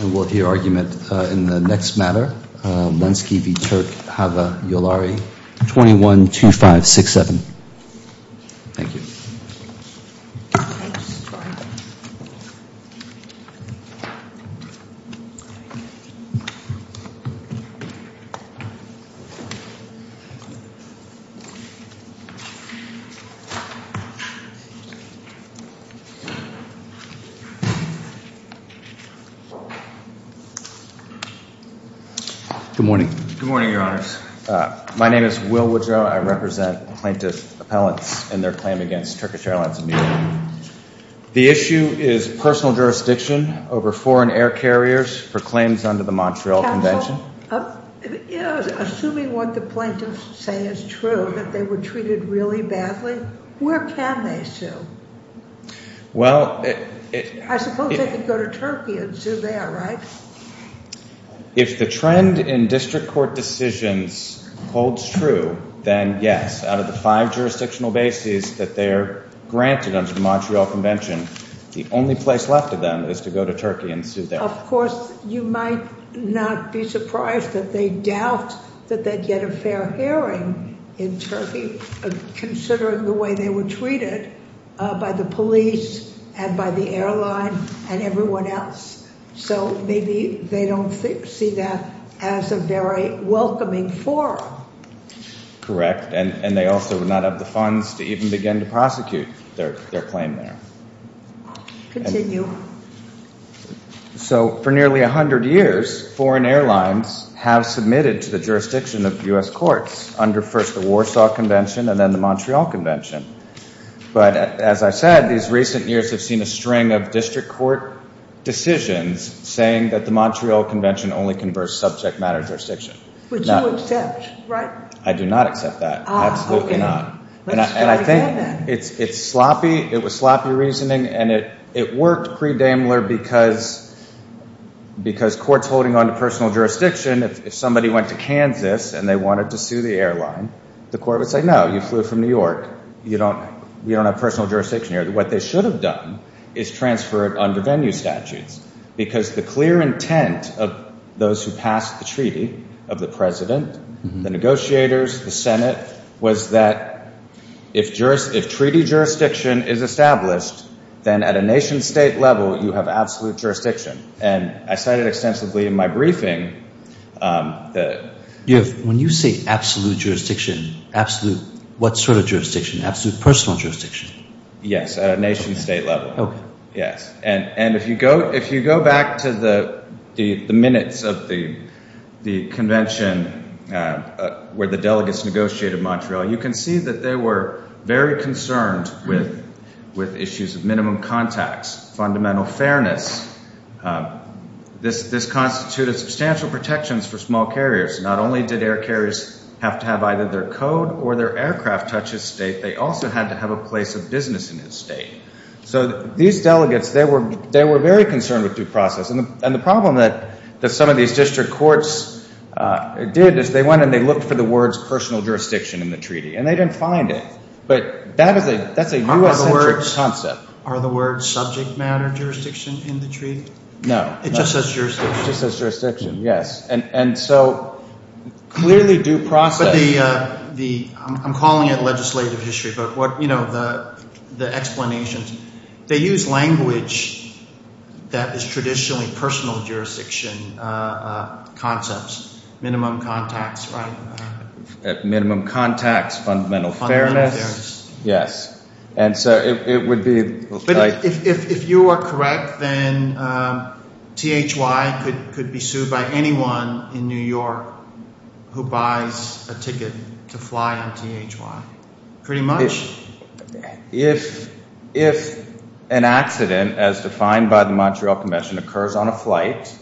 And we'll hear argument in the next matter, Lensky v. Turk Hava Yolari, 21-2567. Thank you. Good morning. Good morning, Your Honors. My name is Will Woodrow. I represent plaintiff appellants and their claim against Turkish Airlines, Inc. The issue is personal jurisdiction over foreign air carriers for claims under the Montreal Convention. Counsel, assuming what the plaintiffs say is true, that they were treated really badly, where can they sue? Well... I suppose they could go to Turkey and sue there, right? If the trend in district court decisions holds true, then yes, out of the five jurisdictional bases that they're granted under the Montreal Convention, the only place left of them is to go to Turkey and sue there. Of course, you might not be surprised that they doubt that they'd get a fair hearing in Turkey, considering the way they were treated by the police and by the airline and everyone else. So maybe they don't see that as a very welcoming forum. Correct. And they also would not have the funds to even begin to prosecute their claim there. Continue. So for nearly 100 years, foreign airlines have submitted to the jurisdiction of U.S. courts under first the Warsaw Convention and then the Montreal Convention. But as I said, these recent years have seen a string of district court decisions saying that the Montreal Convention only converts subject matter jurisdiction. Which you accept, right? I do not accept that. Absolutely not. Let's try to get that. It's sloppy. It was sloppy reasoning. And it worked pre-Daimler because courts holding on to personal jurisdiction, if somebody went to Kansas and they wanted to sue the airline, the court would say, no, you flew from New York, you don't have personal jurisdiction here. What they should have done is transferred under venue statutes, because the clear intent of those who passed the treaty, of the president, the negotiators, the Senate, was that if treaty jurisdiction is established, then at a nation-state level you have absolute jurisdiction. And I said it extensively in my briefing. When you say absolute jurisdiction, absolute what sort of jurisdiction? Absolute personal jurisdiction? Yes, at a nation-state level. And if you go back to the minutes of the convention where the delegates negotiated Montreal, you can see that they were very concerned with issues of minimum contacts, fundamental fairness. This constituted substantial protections for small carriers. Not only did air carriers have to have either their code or their aircraft touch a state, they also had to have a place of business in the state. So these delegates, they were very concerned with due process. And the problem that some of these district courts did is they went and they looked for the words personal jurisdiction in the treaty, and they didn't find it. But that's a U.S.-centric concept. Are the words subject matter jurisdiction in the treaty? No. It just says jurisdiction. It just says jurisdiction, yes. And so clearly due process. I'm calling it legislative history, but, you know, the explanations. They use language that is traditionally personal jurisdiction concepts. Minimum contacts, right? Minimum contacts, fundamental fairness. Yes. And so it would be – If you are correct, then THY could be sued by anyone in New York who buys a ticket to fly on THY. Pretty much. If an accident, as defined by the Montreal Convention, occurs on a flight,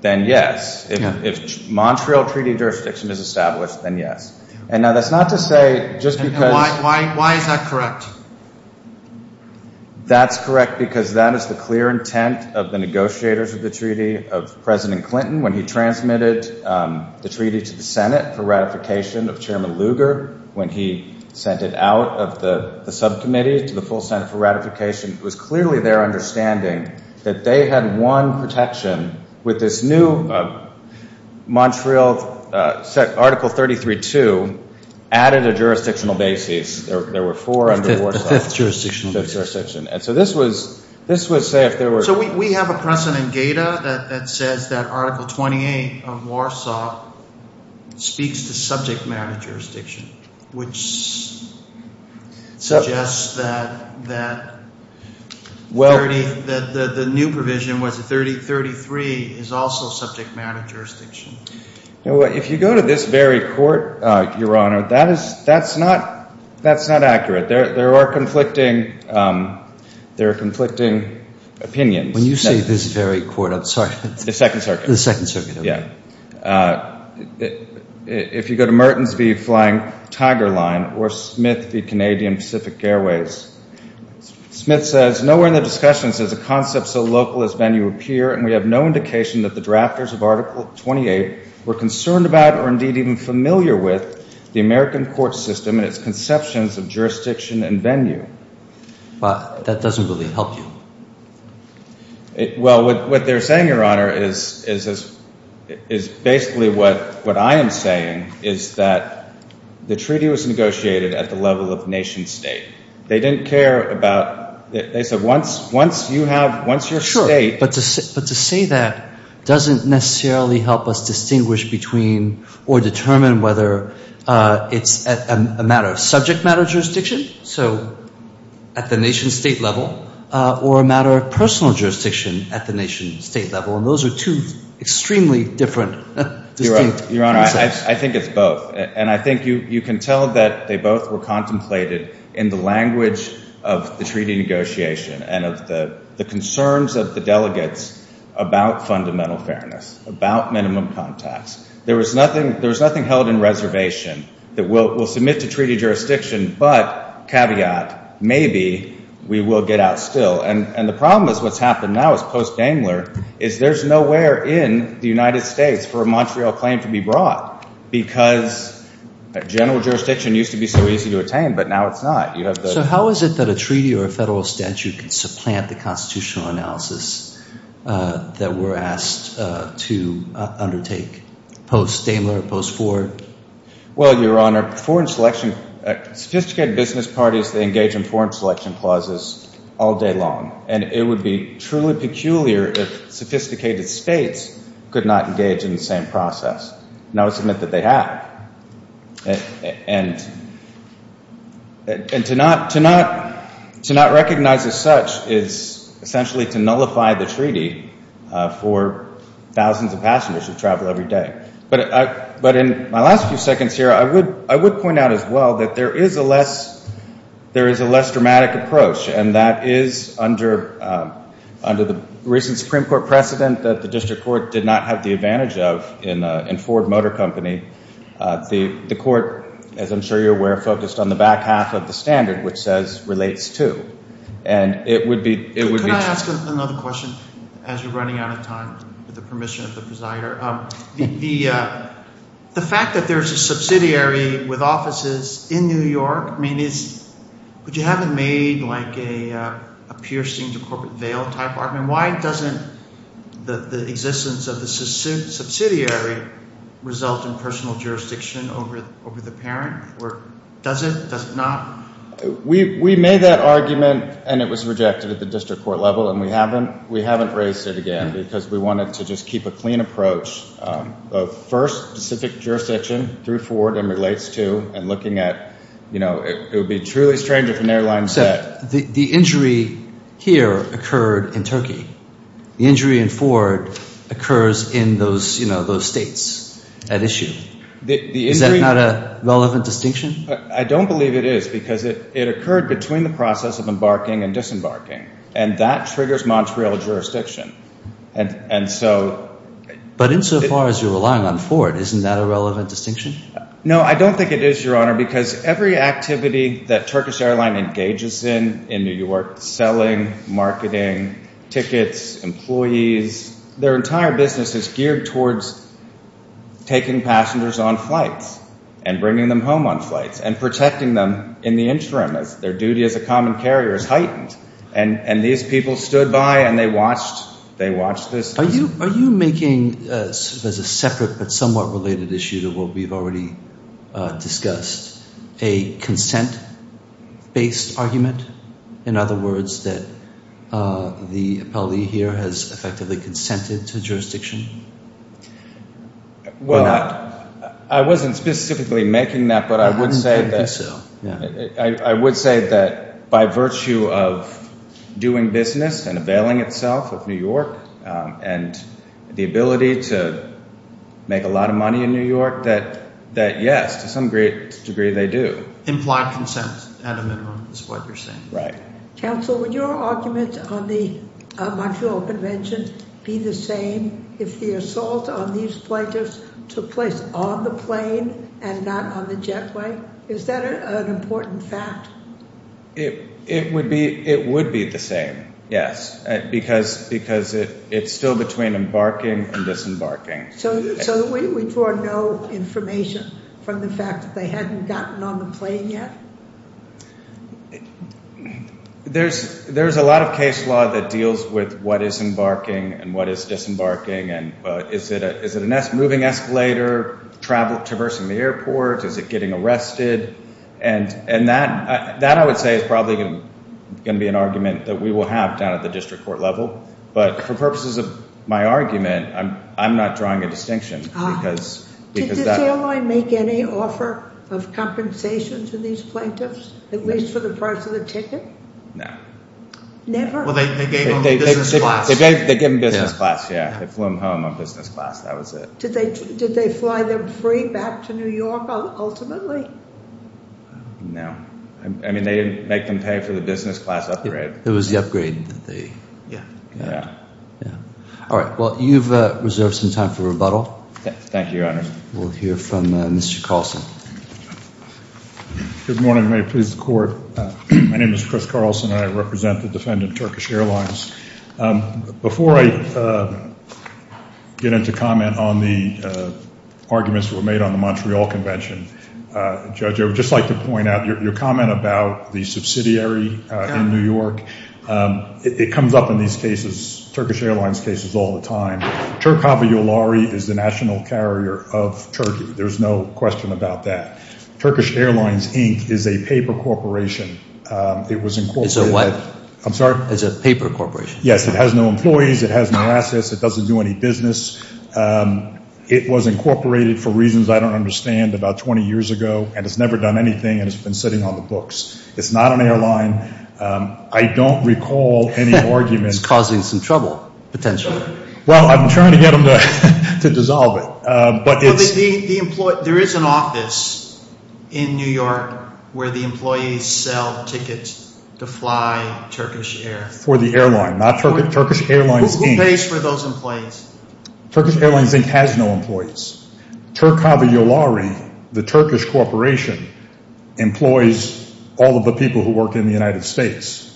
then yes. If Montreal Treaty jurisdiction is established, then yes. And now that's not to say just because – Why is that correct? That's correct because that is the clear intent of the negotiators of the Treaty of President Clinton when he transmitted the treaty to the Senate for ratification of Chairman Lugar. When he sent it out of the subcommittee to the full Senate for ratification, it was clearly their understanding that they had won protection with this new Montreal – Article 33.2 added a jurisdictional basis. There were four under Warsaw. The fifth jurisdictional basis. The fifth jurisdiction. And so this would say if there were – So we have a precedent data that says that Article 28 of Warsaw speaks to subject matter jurisdiction, which suggests that the new provision was that 33 is also subject matter jurisdiction. If you go to this very court, Your Honor, that's not accurate. There are conflicting opinions. When you say this very court, I'm sorry. The Second Circuit. The Second Circuit, okay. If you go to Mertens v. Flying Tiger Line or Smith v. Canadian Pacific Airways, Smith says, Nowhere in the discussions does a concept so local as venue appear, and we have no indication that the drafters of Article 28 were concerned about or indeed even familiar with the American court system and its conceptions of jurisdiction and venue. That doesn't really help you. Well, what they're saying, Your Honor, is basically what I am saying, is that the treaty was negotiated at the level of nation state. They didn't care about – they said once you have – once your state – Sure. But to say that doesn't necessarily help us distinguish between or determine whether it's a matter of subject matter jurisdiction, so at the nation state level, or a matter of personal jurisdiction at the nation state level. And those are two extremely different distinct concepts. Your Honor, I think it's both. And I think you can tell that they both were contemplated in the language of the treaty negotiation and of the concerns of the delegates about fundamental fairness, about minimum contacts. There was nothing held in reservation that we'll submit to treaty jurisdiction, but, caveat, maybe we will get out still. And the problem is what's happened now is post-Daimler is there's nowhere in the United States for a Montreal claim to be brought because general jurisdiction used to be so easy to attain, but now it's not. So how is it that a treaty or a federal statute can supplant the constitutional analysis that we're asked to undertake post-Daimler, post-Ford? Well, Your Honor, foreign selection – sophisticated business parties, they engage in foreign selection clauses all day long. And it would be truly peculiar if sophisticated states could not engage in the same process. And I would submit that they have. And to not recognize as such is essentially to nullify the treaty for thousands of passengers who travel every day. But in my last few seconds here, I would point out as well that there is a less dramatic approach, and that is under the recent Supreme Court precedent that the district court did not have the advantage of in Ford Motor Company, the court, as I'm sure you're aware, focused on the back half of the standard, which says relates to. And it would be – Could I ask another question as you're running out of time, with the permission of the presider? The fact that there's a subsidiary with offices in New York, I mean, but you haven't made like a piercing to corporate veil type argument. Why doesn't the existence of the subsidiary result in personal jurisdiction over the parent? Does it? Does it not? We made that argument, and it was rejected at the district court level, and we haven't raised it again because we wanted to just keep a clean approach of first specific jurisdiction through Ford and relates to and looking at it would be truly strange if an airline said. The injury here occurred in Turkey. The injury in Ford occurs in those states at issue. Is that not a relevant distinction? I don't believe it is because it occurred between the process of embarking and disembarking, and that triggers Montreal jurisdiction. But insofar as you're relying on Ford, isn't that a relevant distinction? No, I don't think it is, Your Honor, because every activity that Turkish Airlines engages in in New York, selling, marketing, tickets, employees, their entire business is geared towards taking passengers on flights and bringing them home on flights and protecting them in the interim as their duty as a common carrier is heightened. And these people stood by and they watched this. Are you making, as a separate but somewhat related issue to what we've already discussed, a consent-based argument? In other words, that the appellee here has effectively consented to jurisdiction or not? Well, I wasn't specifically making that, but I would say that by virtue of doing business and availing itself of New York and the ability to make a lot of money in New York, that yes, to some great degree, they do. Implied consent, at a minimum, is what you're saying. Right. Counsel, would your argument on the Montreal Convention be the same if the assault on these flighters took place on the plane and not on the jetway? Is that an important fact? It would be the same, yes, because it's still between embarking and disembarking. So we draw no information from the fact that they hadn't gotten on the plane yet? There's a lot of case law that deals with what is embarking and what is disembarking. Is it a moving escalator traversing the airport? Is it getting arrested? That, I would say, is probably going to be an argument that we will have down at the district court level. But for purposes of my argument, I'm not drawing a distinction. Did the airline make any offer of compensation to these plaintiffs, at least for the price of the ticket? No. Never? Well, they gave them business class. They gave them business class, yes. They flew them home on business class. That was it. Did they fly them free back to New York, ultimately? No. I mean, they didn't make them pay for the business class upgrade. It was the upgrade that they got. All right. Well, you've reserved some time for rebuttal. Thank you, Your Honor. We'll hear from Mr. Carlson. Good morning. May it please the Court. My name is Chris Carlson, and I represent the defendant, Turkish Airlines. Before I get into comment on the arguments that were made on the Montreal Convention, Judge, I would just like to point out your comment about the subsidiary in New York. It comes up in these cases, Turkish Airlines cases, all the time. Turk Havayollari is the national carrier of Turkey. There's no question about that. Turkish Airlines, Inc. is a paper corporation. It's a what? I'm sorry? It's a paper corporation. Yes. It has no employees. It has no assets. It doesn't do any business. It was incorporated for reasons I don't understand about 20 years ago, and it's never done anything, and it's been sitting on the books. It's not an airline. I don't recall any argument. It's causing some trouble, potentially. Well, I'm trying to get them to dissolve it. There is an office in New York where the employees sell tickets to fly Turkish Air. For the airline, not Turkish Airlines, Inc. Who pays for those employees? Turkish Airlines, Inc. has no employees. Turk Havayollari, the Turkish corporation, employs all of the people who work in the United States.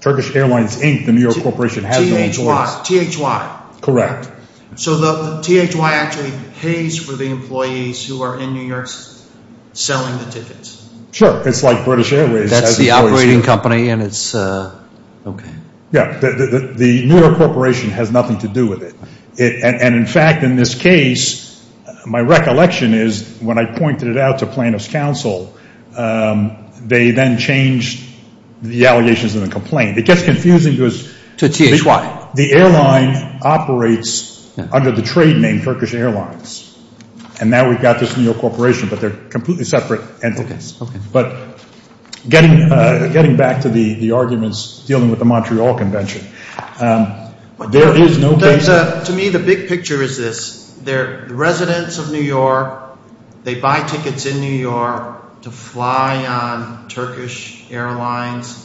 Turkish Airlines, Inc., the New York corporation, has no employees. THY. Correct. So THY actually pays for the employees who are in New York selling the tickets? Sure. It's like British Airways. That's the operating company, and it's – okay. Yeah. The New York corporation has nothing to do with it. And, in fact, in this case, my recollection is when I pointed it out to plaintiff's counsel, they then changed the allegations and the complaint. It gets confusing because – To THY. Now, the airline operates under the trade name Turkish Airlines, and now we've got this New York corporation, but they're completely separate entities. Okay. But getting back to the arguments dealing with the Montreal Convention, there is no – To me, the big picture is this. The residents of New York, they buy tickets in New York to fly on Turkish Airlines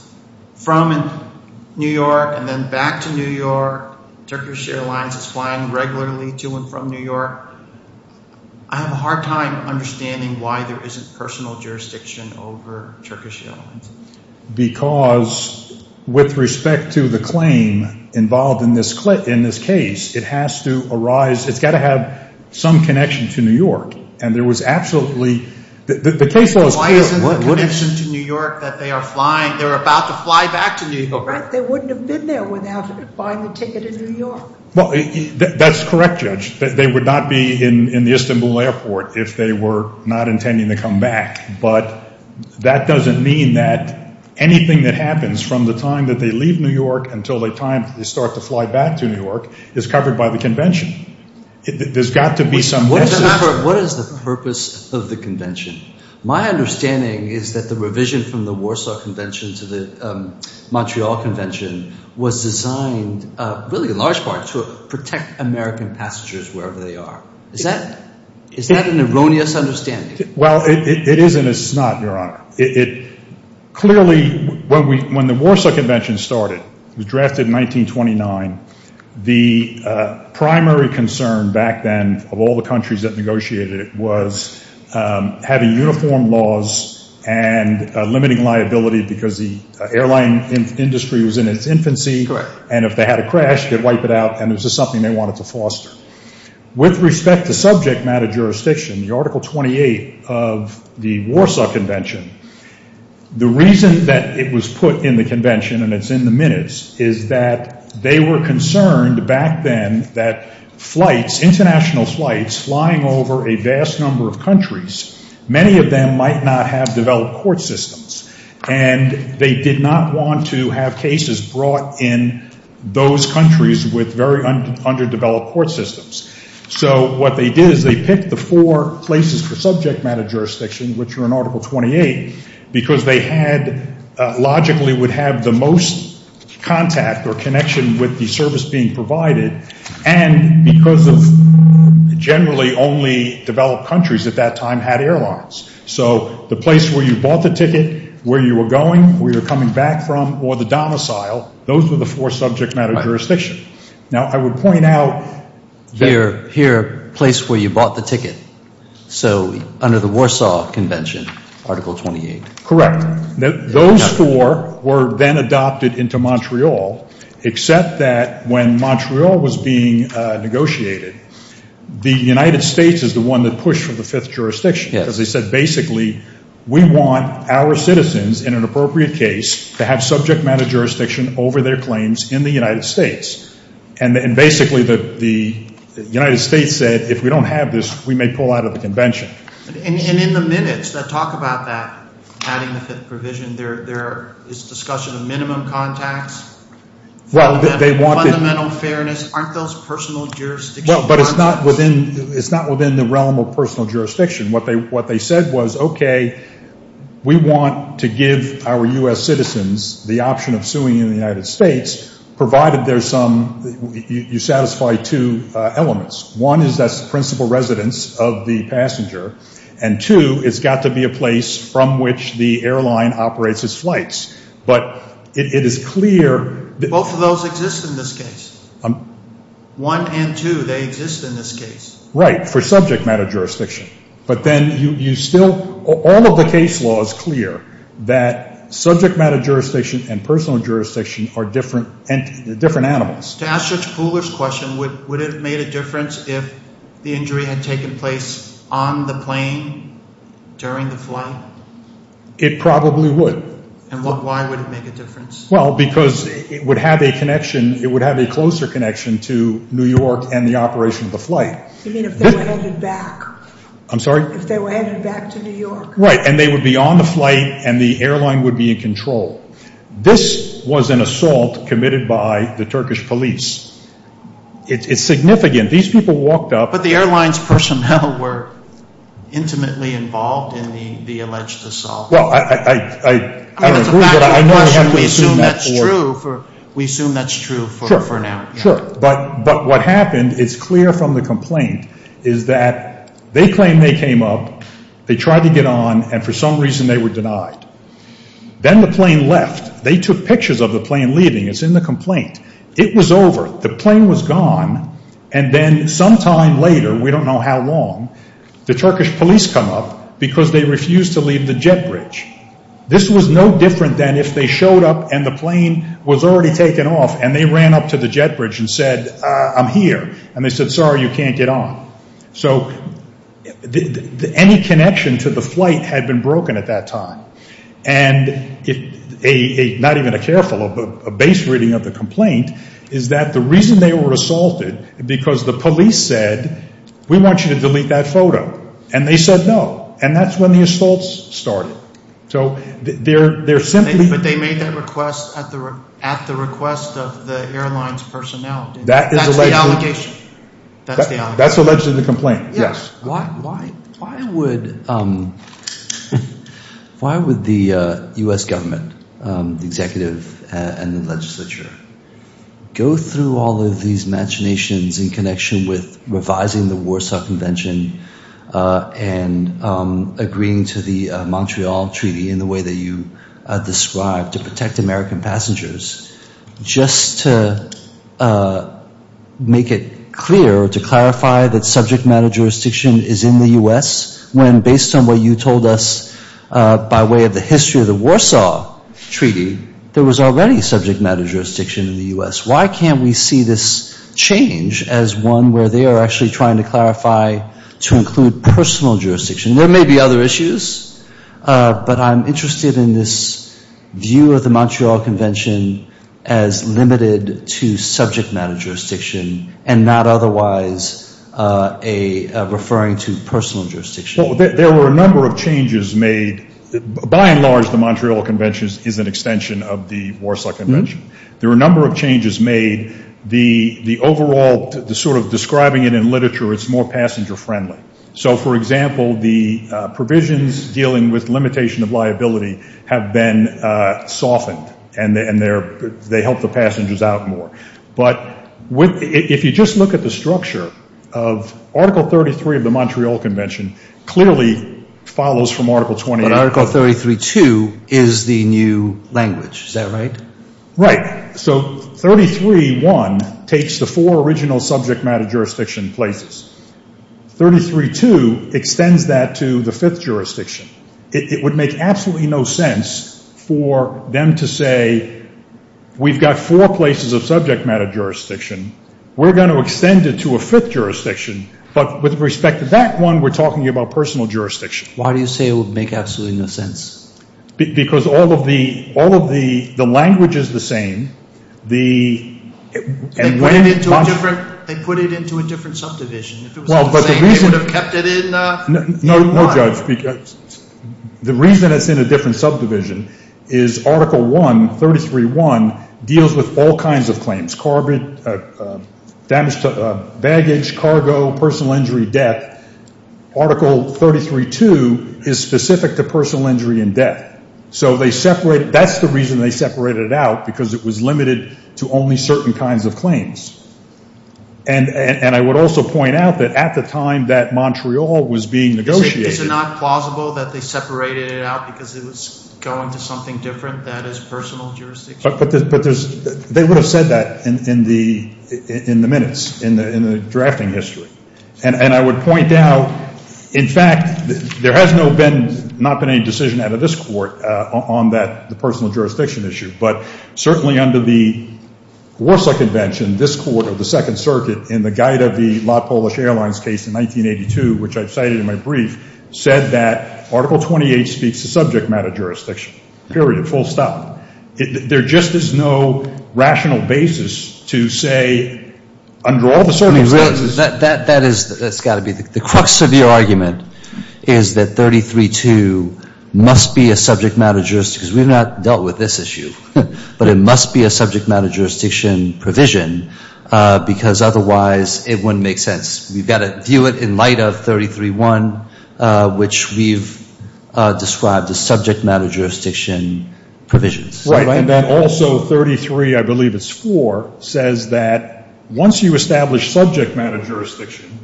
from New York and then back to New York. Turkish Airlines is flying regularly to and from New York. I have a hard time understanding why there isn't personal jurisdiction over Turkish Airlines. Because with respect to the claim involved in this case, it has to arise – it's got to have some connection to New York. And there was absolutely – the case was – Why isn't there a connection to New York that they are flying – they're about to fly back to New York. They wouldn't have been there without buying the ticket in New York. Well, that's correct, Judge. They would not be in the Istanbul Airport if they were not intending to come back. But that doesn't mean that anything that happens from the time that they leave New York until they start to fly back to New York is covered by the convention. There's got to be some – What is the purpose of the convention? My understanding is that the revision from the Warsaw Convention to the Montreal Convention was designed, really in large part, to protect American passengers wherever they are. Is that an erroneous understanding? Well, it is and it's not, Your Honor. Clearly, when the Warsaw Convention started, it was drafted in 1929, the primary concern back then of all the countries that negotiated it was having uniform laws and limiting liability because the airline industry was in its infancy, and if they had a crash, they'd wipe it out, and it was just something they wanted to foster. With respect to subject matter jurisdiction, the Article 28 of the Warsaw Convention, the reason that it was put in the convention, and it's in the minutes, is that they were concerned back then that flights, international flights, flying over a vast number of countries, many of them might not have developed court systems, and they did not want to have cases brought in those countries with very underdeveloped court systems. So what they did is they picked the four places for subject matter jurisdiction, which were in Article 28, because they had – logically would have the most contact or connection with the service being provided, and because of generally only developed countries at that time had airlines. So the place where you bought the ticket, where you were going, where you were coming back from, or the domicile, those were the four subject matter jurisdictions. Now, I would point out – Here, place where you bought the ticket. So under the Warsaw Convention, Article 28. Correct. Those four were then adopted into Montreal, except that when Montreal was being negotiated, the United States is the one that pushed for the fifth jurisdiction, because they said basically we want our citizens in an appropriate case to have subject matter jurisdiction over their claims in the United States. And basically the United States said if we don't have this, we may pull out of the convention. And in the minutes that talk about that, adding the fifth provision, there is discussion of minimum contacts, fundamental fairness. Aren't those personal jurisdictions? Well, but it's not within the realm of personal jurisdiction. What they said was, okay, we want to give our U.S. citizens the option of suing in the United States, provided there's some – you satisfy two elements. One is that's the principal residence of the passenger, and two, it's got to be a place from which the airline operates its flights. But it is clear – Both of those exist in this case. One and two, they exist in this case. Right, for subject matter jurisdiction. But then you still – all of the case law is clear that subject matter jurisdiction and personal jurisdiction are different animals. To ask Judge Pooler's question, would it have made a difference if the injury had taken place on the plane during the flight? It probably would. And why would it make a difference? Well, because it would have a connection – it would have a closer connection to New York and the operation of the flight. You mean if they were headed back? I'm sorry? If they were headed back to New York? Right, and they would be on the flight and the airline would be in control. This was an assault committed by the Turkish police. It's significant. These people walked up – But the airline's personnel were intimately involved in the alleged assault. Well, I don't agree, but I know – I mean, that's a fact of the question. We assume that's true for now. Sure, sure. But what happened is clear from the complaint, is that they claim they came up, they tried to get on, and for some reason they were denied. Then the plane left. They took pictures of the plane leaving. It's in the complaint. It was over. The plane was gone. And then sometime later, we don't know how long, the Turkish police come up because they refused to leave the jet bridge. This was no different than if they showed up and the plane was already taken off and they ran up to the jet bridge and said, I'm here, and they said, sorry, you can't get on. So any connection to the flight had been broken at that time. And not even a careful, a base reading of the complaint, is that the reason they were assaulted, because the police said, we want you to delete that photo. And they said no. And that's when the assaults started. So they're simply – But they made that request at the request of the airline's personnel. That's the allegation. That's the allegation of the complaint, yes. Why would the U.S. government, the executive and the legislature, go through all of these machinations in connection with revising the Warsaw Convention and agreeing to the Montreal Treaty in the way that you described to protect American passengers, just to make it clear or to clarify that subject matter jurisdiction is in the U.S., when based on what you told us by way of the history of the Warsaw Treaty, there was already subject matter jurisdiction in the U.S.? Why can't we see this change as one where they are actually trying to clarify to include personal jurisdiction? There may be other issues, but I'm interested in this view of the Montreal Convention as limited to subject matter jurisdiction and not otherwise referring to personal jurisdiction. Well, there were a number of changes made. By and large, the Montreal Convention is an extension of the Warsaw Convention. There were a number of changes made. The overall sort of describing it in literature, it's more passenger-friendly. So, for example, the provisions dealing with limitation of liability have been softened and they help the passengers out more. But if you just look at the structure of Article 33 of the Montreal Convention clearly follows from Article 28. But Article 33.2 is the new language. Is that right? Right. So 33.1 takes the four original subject matter jurisdiction places. 33.2 extends that to the fifth jurisdiction. It would make absolutely no sense for them to say, we've got four places of subject matter jurisdiction. We're going to extend it to a fifth jurisdiction. But with respect to that one, we're talking about personal jurisdiction. Why do you say it would make absolutely no sense? Because all of the language is the same. They put it into a different subdivision. If it was all the same, they would have kept it in one. No, Judge. The reason it's in a different subdivision is Article 1, 33.1, deals with all kinds of claims, baggage, cargo, personal injury, death. Article 33.2 is specific to personal injury and death. So that's the reason they separated it out, because it was limited to only certain kinds of claims. And I would also point out that at the time that Montreal was being negotiated— Is it not plausible that they separated it out because it was going to something different that is personal jurisdiction? But they would have said that in the minutes, in the drafting history. And I would point out, in fact, there has not been any decision out of this Court on the personal jurisdiction issue. But certainly under the Warsaw Convention, this Court of the Second Circuit, in the guide of the Lot Polish Airlines case in 1982, which I've cited in my brief, said that Article 28 speaks to subject matter jurisdiction, period, full stop. There just is no rational basis to say, under all the circumstances— The crux of your argument is that 33.2 must be a subject matter jurisdiction, because we've not dealt with this issue. But it must be a subject matter jurisdiction provision, because otherwise it wouldn't make sense. We've got to view it in light of 33.1, which we've described as subject matter jurisdiction provisions. Right. And then also 33, I believe it's 4, says that once you establish subject matter jurisdiction,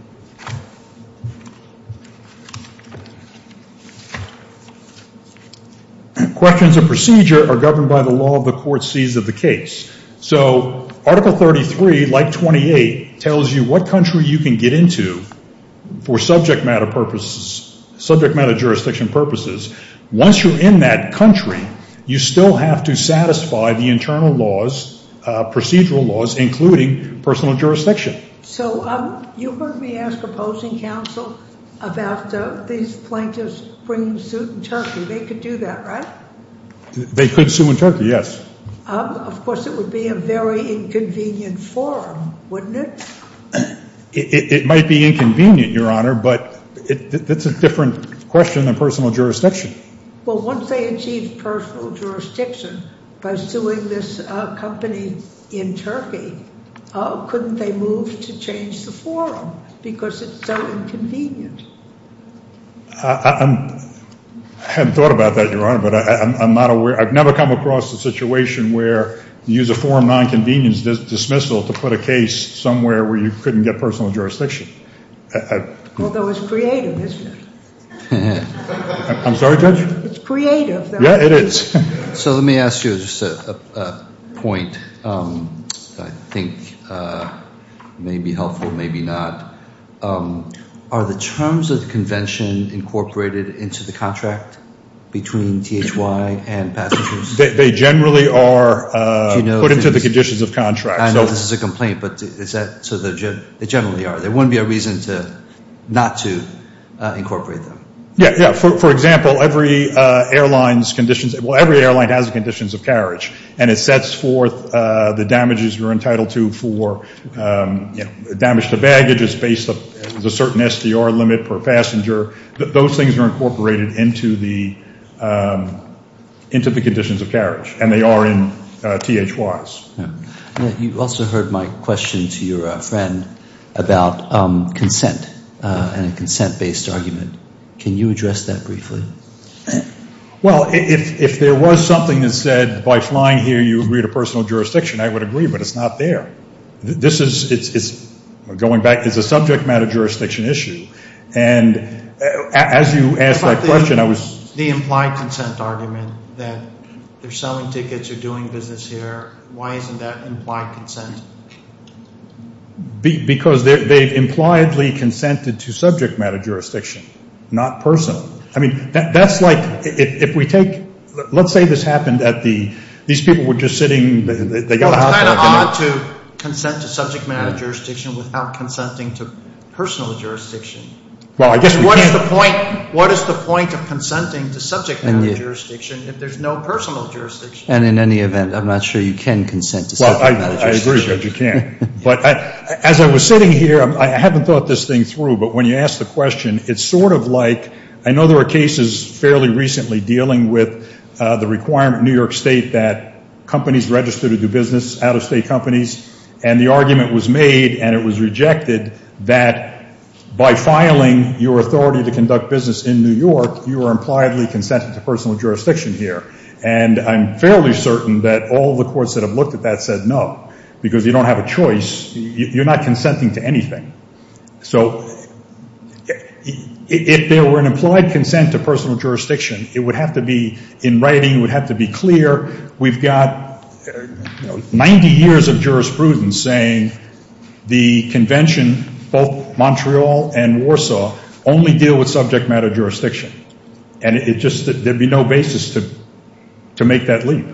questions of procedure are governed by the law of the court sees of the case. So Article 33, like 28, tells you what country you can get into for subject matter jurisdiction purposes. Once you're in that country, you still have to satisfy the internal laws, procedural laws, including personal jurisdiction. So you heard me ask opposing counsel about these plaintiffs bringing suit in Turkey. They could do that, right? They could sue in Turkey, yes. Of course, it would be a very inconvenient forum, wouldn't it? It might be inconvenient, Your Honor, but that's a different question than personal jurisdiction. Well, once they achieve personal jurisdiction by suing this company in Turkey, couldn't they move to change the forum because it's so inconvenient? I hadn't thought about that, Your Honor, but I'm not aware. I've never come across a situation where you use a forum nonconvenience dismissal to put a case somewhere where you couldn't get personal jurisdiction. Although it's creative, isn't it? I'm sorry, Judge? It's creative, though. Yeah, it is. So let me ask you just a point that I think may be helpful, maybe not. Are the terms of the convention incorporated into the contract between THY and passengers? They generally are put into the conditions of contract. I know this is a complaint, but they generally are. There wouldn't be a reason not to incorporate them. Yeah, for example, every airline has conditions of carriage, and it sets forth the damages you're entitled to for damage to baggage. It's based on a certain SDR limit per passenger. Those things are incorporated into the conditions of carriage, and they are in THYs. You also heard my question to your friend about consent and a consent-based argument. Can you address that briefly? Well, if there was something that said by flying here you agreed to personal jurisdiction, I would agree, but it's not there. Going back, it's a subject matter jurisdiction issue, and as you asked that question, I was— The implied consent argument that they're selling tickets or doing business here. Why isn't that implied consent? Because they've impliedly consented to subject matter jurisdiction, not personal. I mean, that's like if we take—let's say this happened at the—these people were just sitting— It's kind of odd to consent to subject matter jurisdiction without consenting to personal jurisdiction. Well, I guess we can't— What is the point of consenting to subject matter jurisdiction if there's no personal jurisdiction? And in any event, I'm not sure you can consent to subject matter jurisdiction. Well, I agree that you can't. But as I was sitting here, I haven't thought this thing through, but when you asked the question, it's sort of like—I know there are cases fairly recently dealing with the requirement in New York State that companies register to do business, out-of-state companies, and the argument was made, and it was rejected, that by filing your authority to conduct business in New York, you are impliedly consented to personal jurisdiction here. And I'm fairly certain that all the courts that have looked at that said no, because you don't have a choice. You're not consenting to anything. So if there were an implied consent to personal jurisdiction, it would have to be— 90 years of jurisprudence saying the convention, both Montreal and Warsaw, only deal with subject matter jurisdiction, and there would be no basis to make that leap.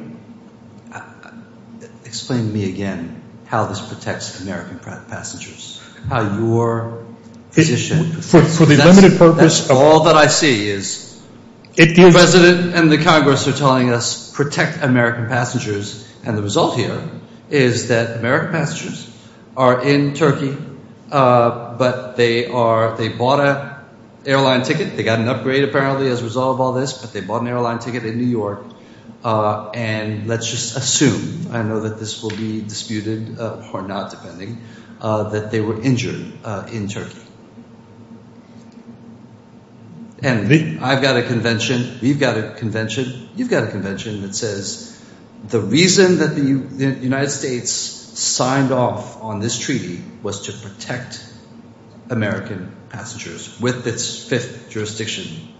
Explain to me again how this protects American passengers, how your position— For the limited purpose of— And the result here is that American passengers are in Turkey, but they bought an airline ticket. They got an upgrade apparently as a result of all this, but they bought an airline ticket in New York. And let's just assume—I know that this will be disputed or not, depending—that they were injured in Turkey. And I've got a convention. We've got a convention. You've got a convention that says the reason that the United States signed off on this treaty was to protect American passengers with its fifth jurisdiction.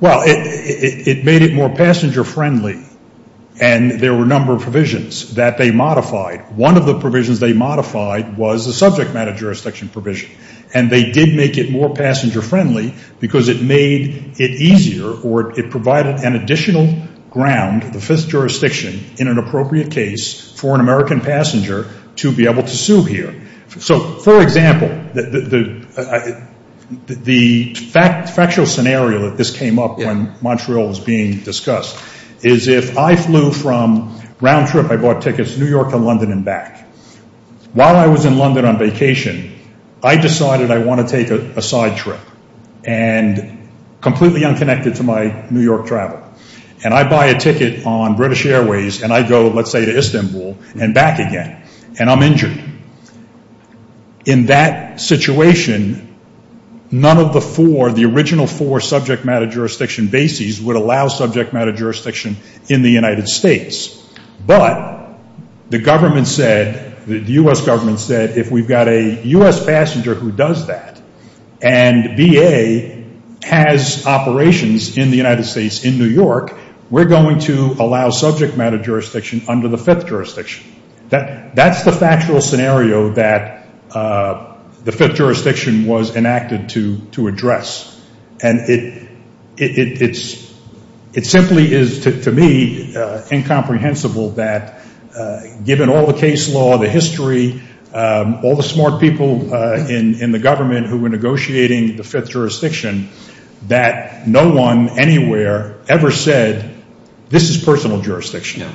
Well, it made it more passenger-friendly, and there were a number of provisions that they modified. One of the provisions they modified was the subject matter jurisdiction provision, and they did make it more passenger-friendly because it made it easier or it provided an additional ground, the fifth jurisdiction, in an appropriate case for an American passenger to be able to sue here. So, for example, the factual scenario that this came up when Montreal was being discussed is if I flew from—round trip, I bought tickets to New York and London and back. While I was in London on vacation, I decided I want to take a side trip and completely unconnected to my New York travel, and I buy a ticket on British Airways and I go, let's say, to Istanbul and back again, and I'm injured. In that situation, none of the four, the original four subject matter jurisdiction bases would allow subject matter jurisdiction in the United States. But the government said, the U.S. government said, if we've got a U.S. passenger who does that and VA has operations in the United States in New York, we're going to allow subject matter jurisdiction under the fifth jurisdiction. That's the factual scenario that the fifth jurisdiction was enacted to address. And it simply is, to me, incomprehensible that given all the case law, the history, all the smart people in the government who were negotiating the fifth jurisdiction, that no one anywhere ever said, this is personal jurisdiction.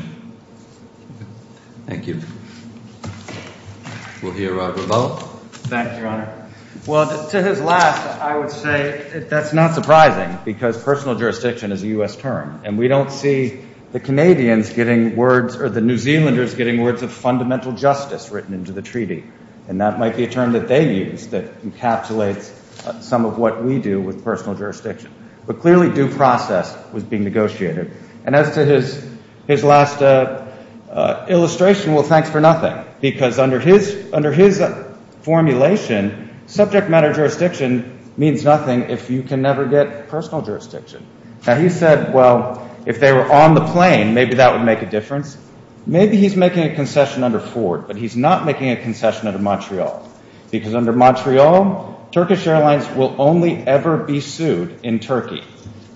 Thank you. We'll hear from Robert. Thank you, Your Honor. Well, to his last, I would say that's not surprising because personal jurisdiction is a U.S. term, and we don't see the Canadians getting words, or the New Zealanders getting words of fundamental justice written into the treaty. And that might be a term that they use that encapsulates some of what we do with personal jurisdiction. But clearly due process was being negotiated. And as to his last illustration, well, thanks for nothing, because under his formulation, subject matter jurisdiction means nothing if you can never get personal jurisdiction. Now, he said, well, if they were on the plane, maybe that would make a difference. Maybe he's making a concession under Ford, but he's not making a concession under Montreal. Because under Montreal, Turkish Airlines will only ever be sued in Turkey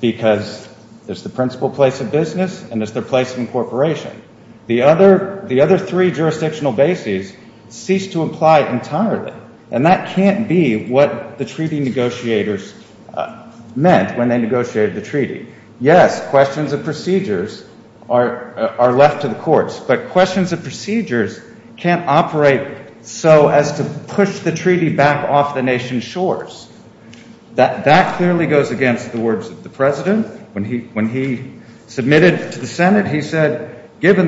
because it's the principal place of business and it's their place of incorporation. The other three jurisdictional bases cease to apply entirely. And that can't be what the treaty negotiators meant when they negotiated the treaty. Yes, questions of procedures are left to the courts, but questions of procedures can't operate so as to push the treaty back off the nation's shores. That clearly goes against the words of the President. When he submitted to the Senate, he said, Why do you say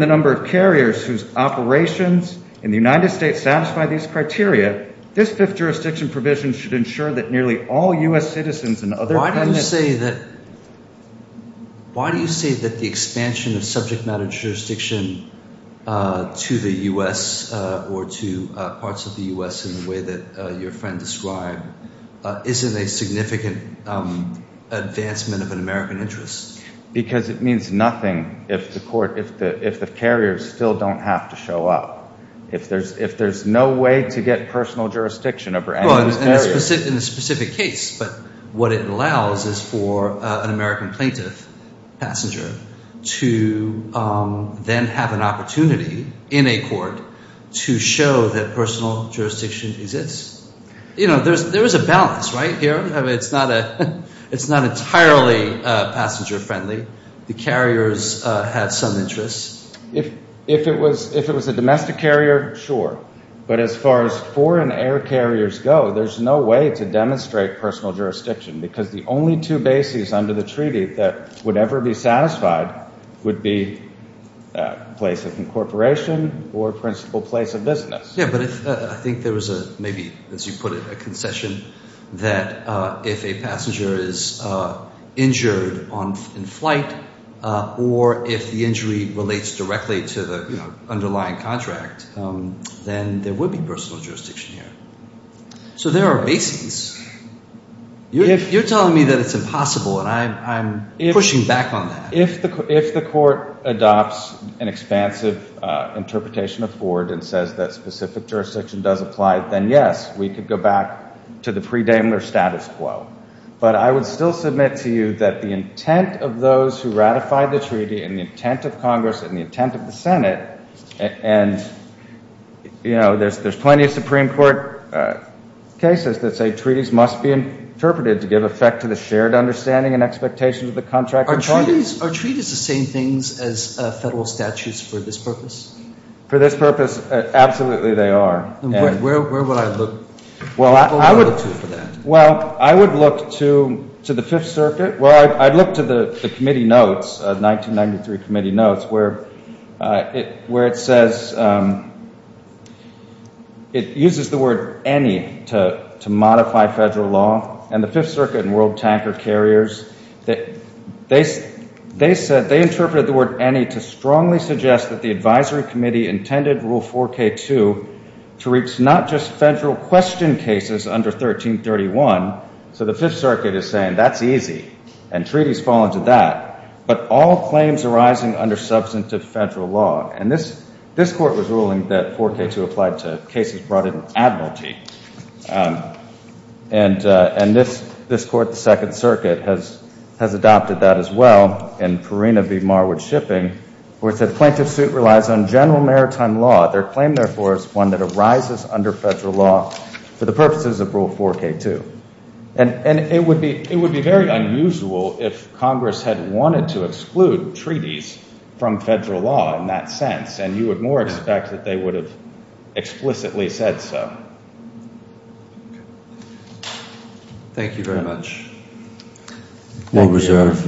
that the expansion of subject matter jurisdiction to the U.S. or to parts of the U.S. in the way that your friend described isn't a significant advancement of an American interest? Because it means nothing if the court, if the Supreme Court, if the carriers still don't have to show up. If there's no way to get personal jurisdiction over any of those areas. In a specific case, but what it allows is for an American plaintiff passenger to then have an opportunity in a court to show that personal jurisdiction exists. There is a balance, right, here? It's not entirely passenger-friendly. The carriers have some interests. If it was a domestic carrier, sure. But as far as foreign air carriers go, there's no way to demonstrate personal jurisdiction because the only two bases under the treaty that would ever be satisfied would be place of incorporation or principal place of business. Yeah, but I think there was a, maybe as you put it, a concession that if a passenger is injured in flight or if the injury relates directly to the underlying contract, then there would be personal jurisdiction here. So there are bases. You're telling me that it's impossible, and I'm pushing back on that. If the court adopts an expansive interpretation of Ford and says that specific jurisdiction does apply, then yes, we could go back to the pre-Daimler status quo. But I would still submit to you that the intent of those who ratify the treaty and the intent of Congress and the intent of the Senate, and there's plenty of Supreme Court cases that say treaties must be interpreted to give effect to the shared understanding and expectations of the contractor. Are treaties the same things as federal statutes for this purpose? For this purpose, absolutely they are. Where would I look to for that? Well, I would look to the Fifth Circuit. Well, I'd look to the committee notes, 1993 committee notes, where it says it uses the word any to modify federal law, and the Fifth Circuit and World Tanker Carriers, they interpreted the word any to strongly suggest that the advisory committee intended Rule 4K2 to reach not just federal question cases under 1331, so the Fifth Circuit is saying that's easy and treaties fall into that, but all claims arising under substantive federal law. And this court was ruling that 4K2 applied to cases brought in by an admiralty, and this court, the Second Circuit, has adopted that as well, and Purina v. Marwood Shipping, where it said the plaintiff's suit relies on general maritime law. Their claim, therefore, is one that arises under federal law for the purposes of Rule 4K2. And it would be very unusual if Congress had wanted to exclude treaties from federal law in that sense, and you would more expect that they would have explicitly said so. Thank you very much. More reserved decision?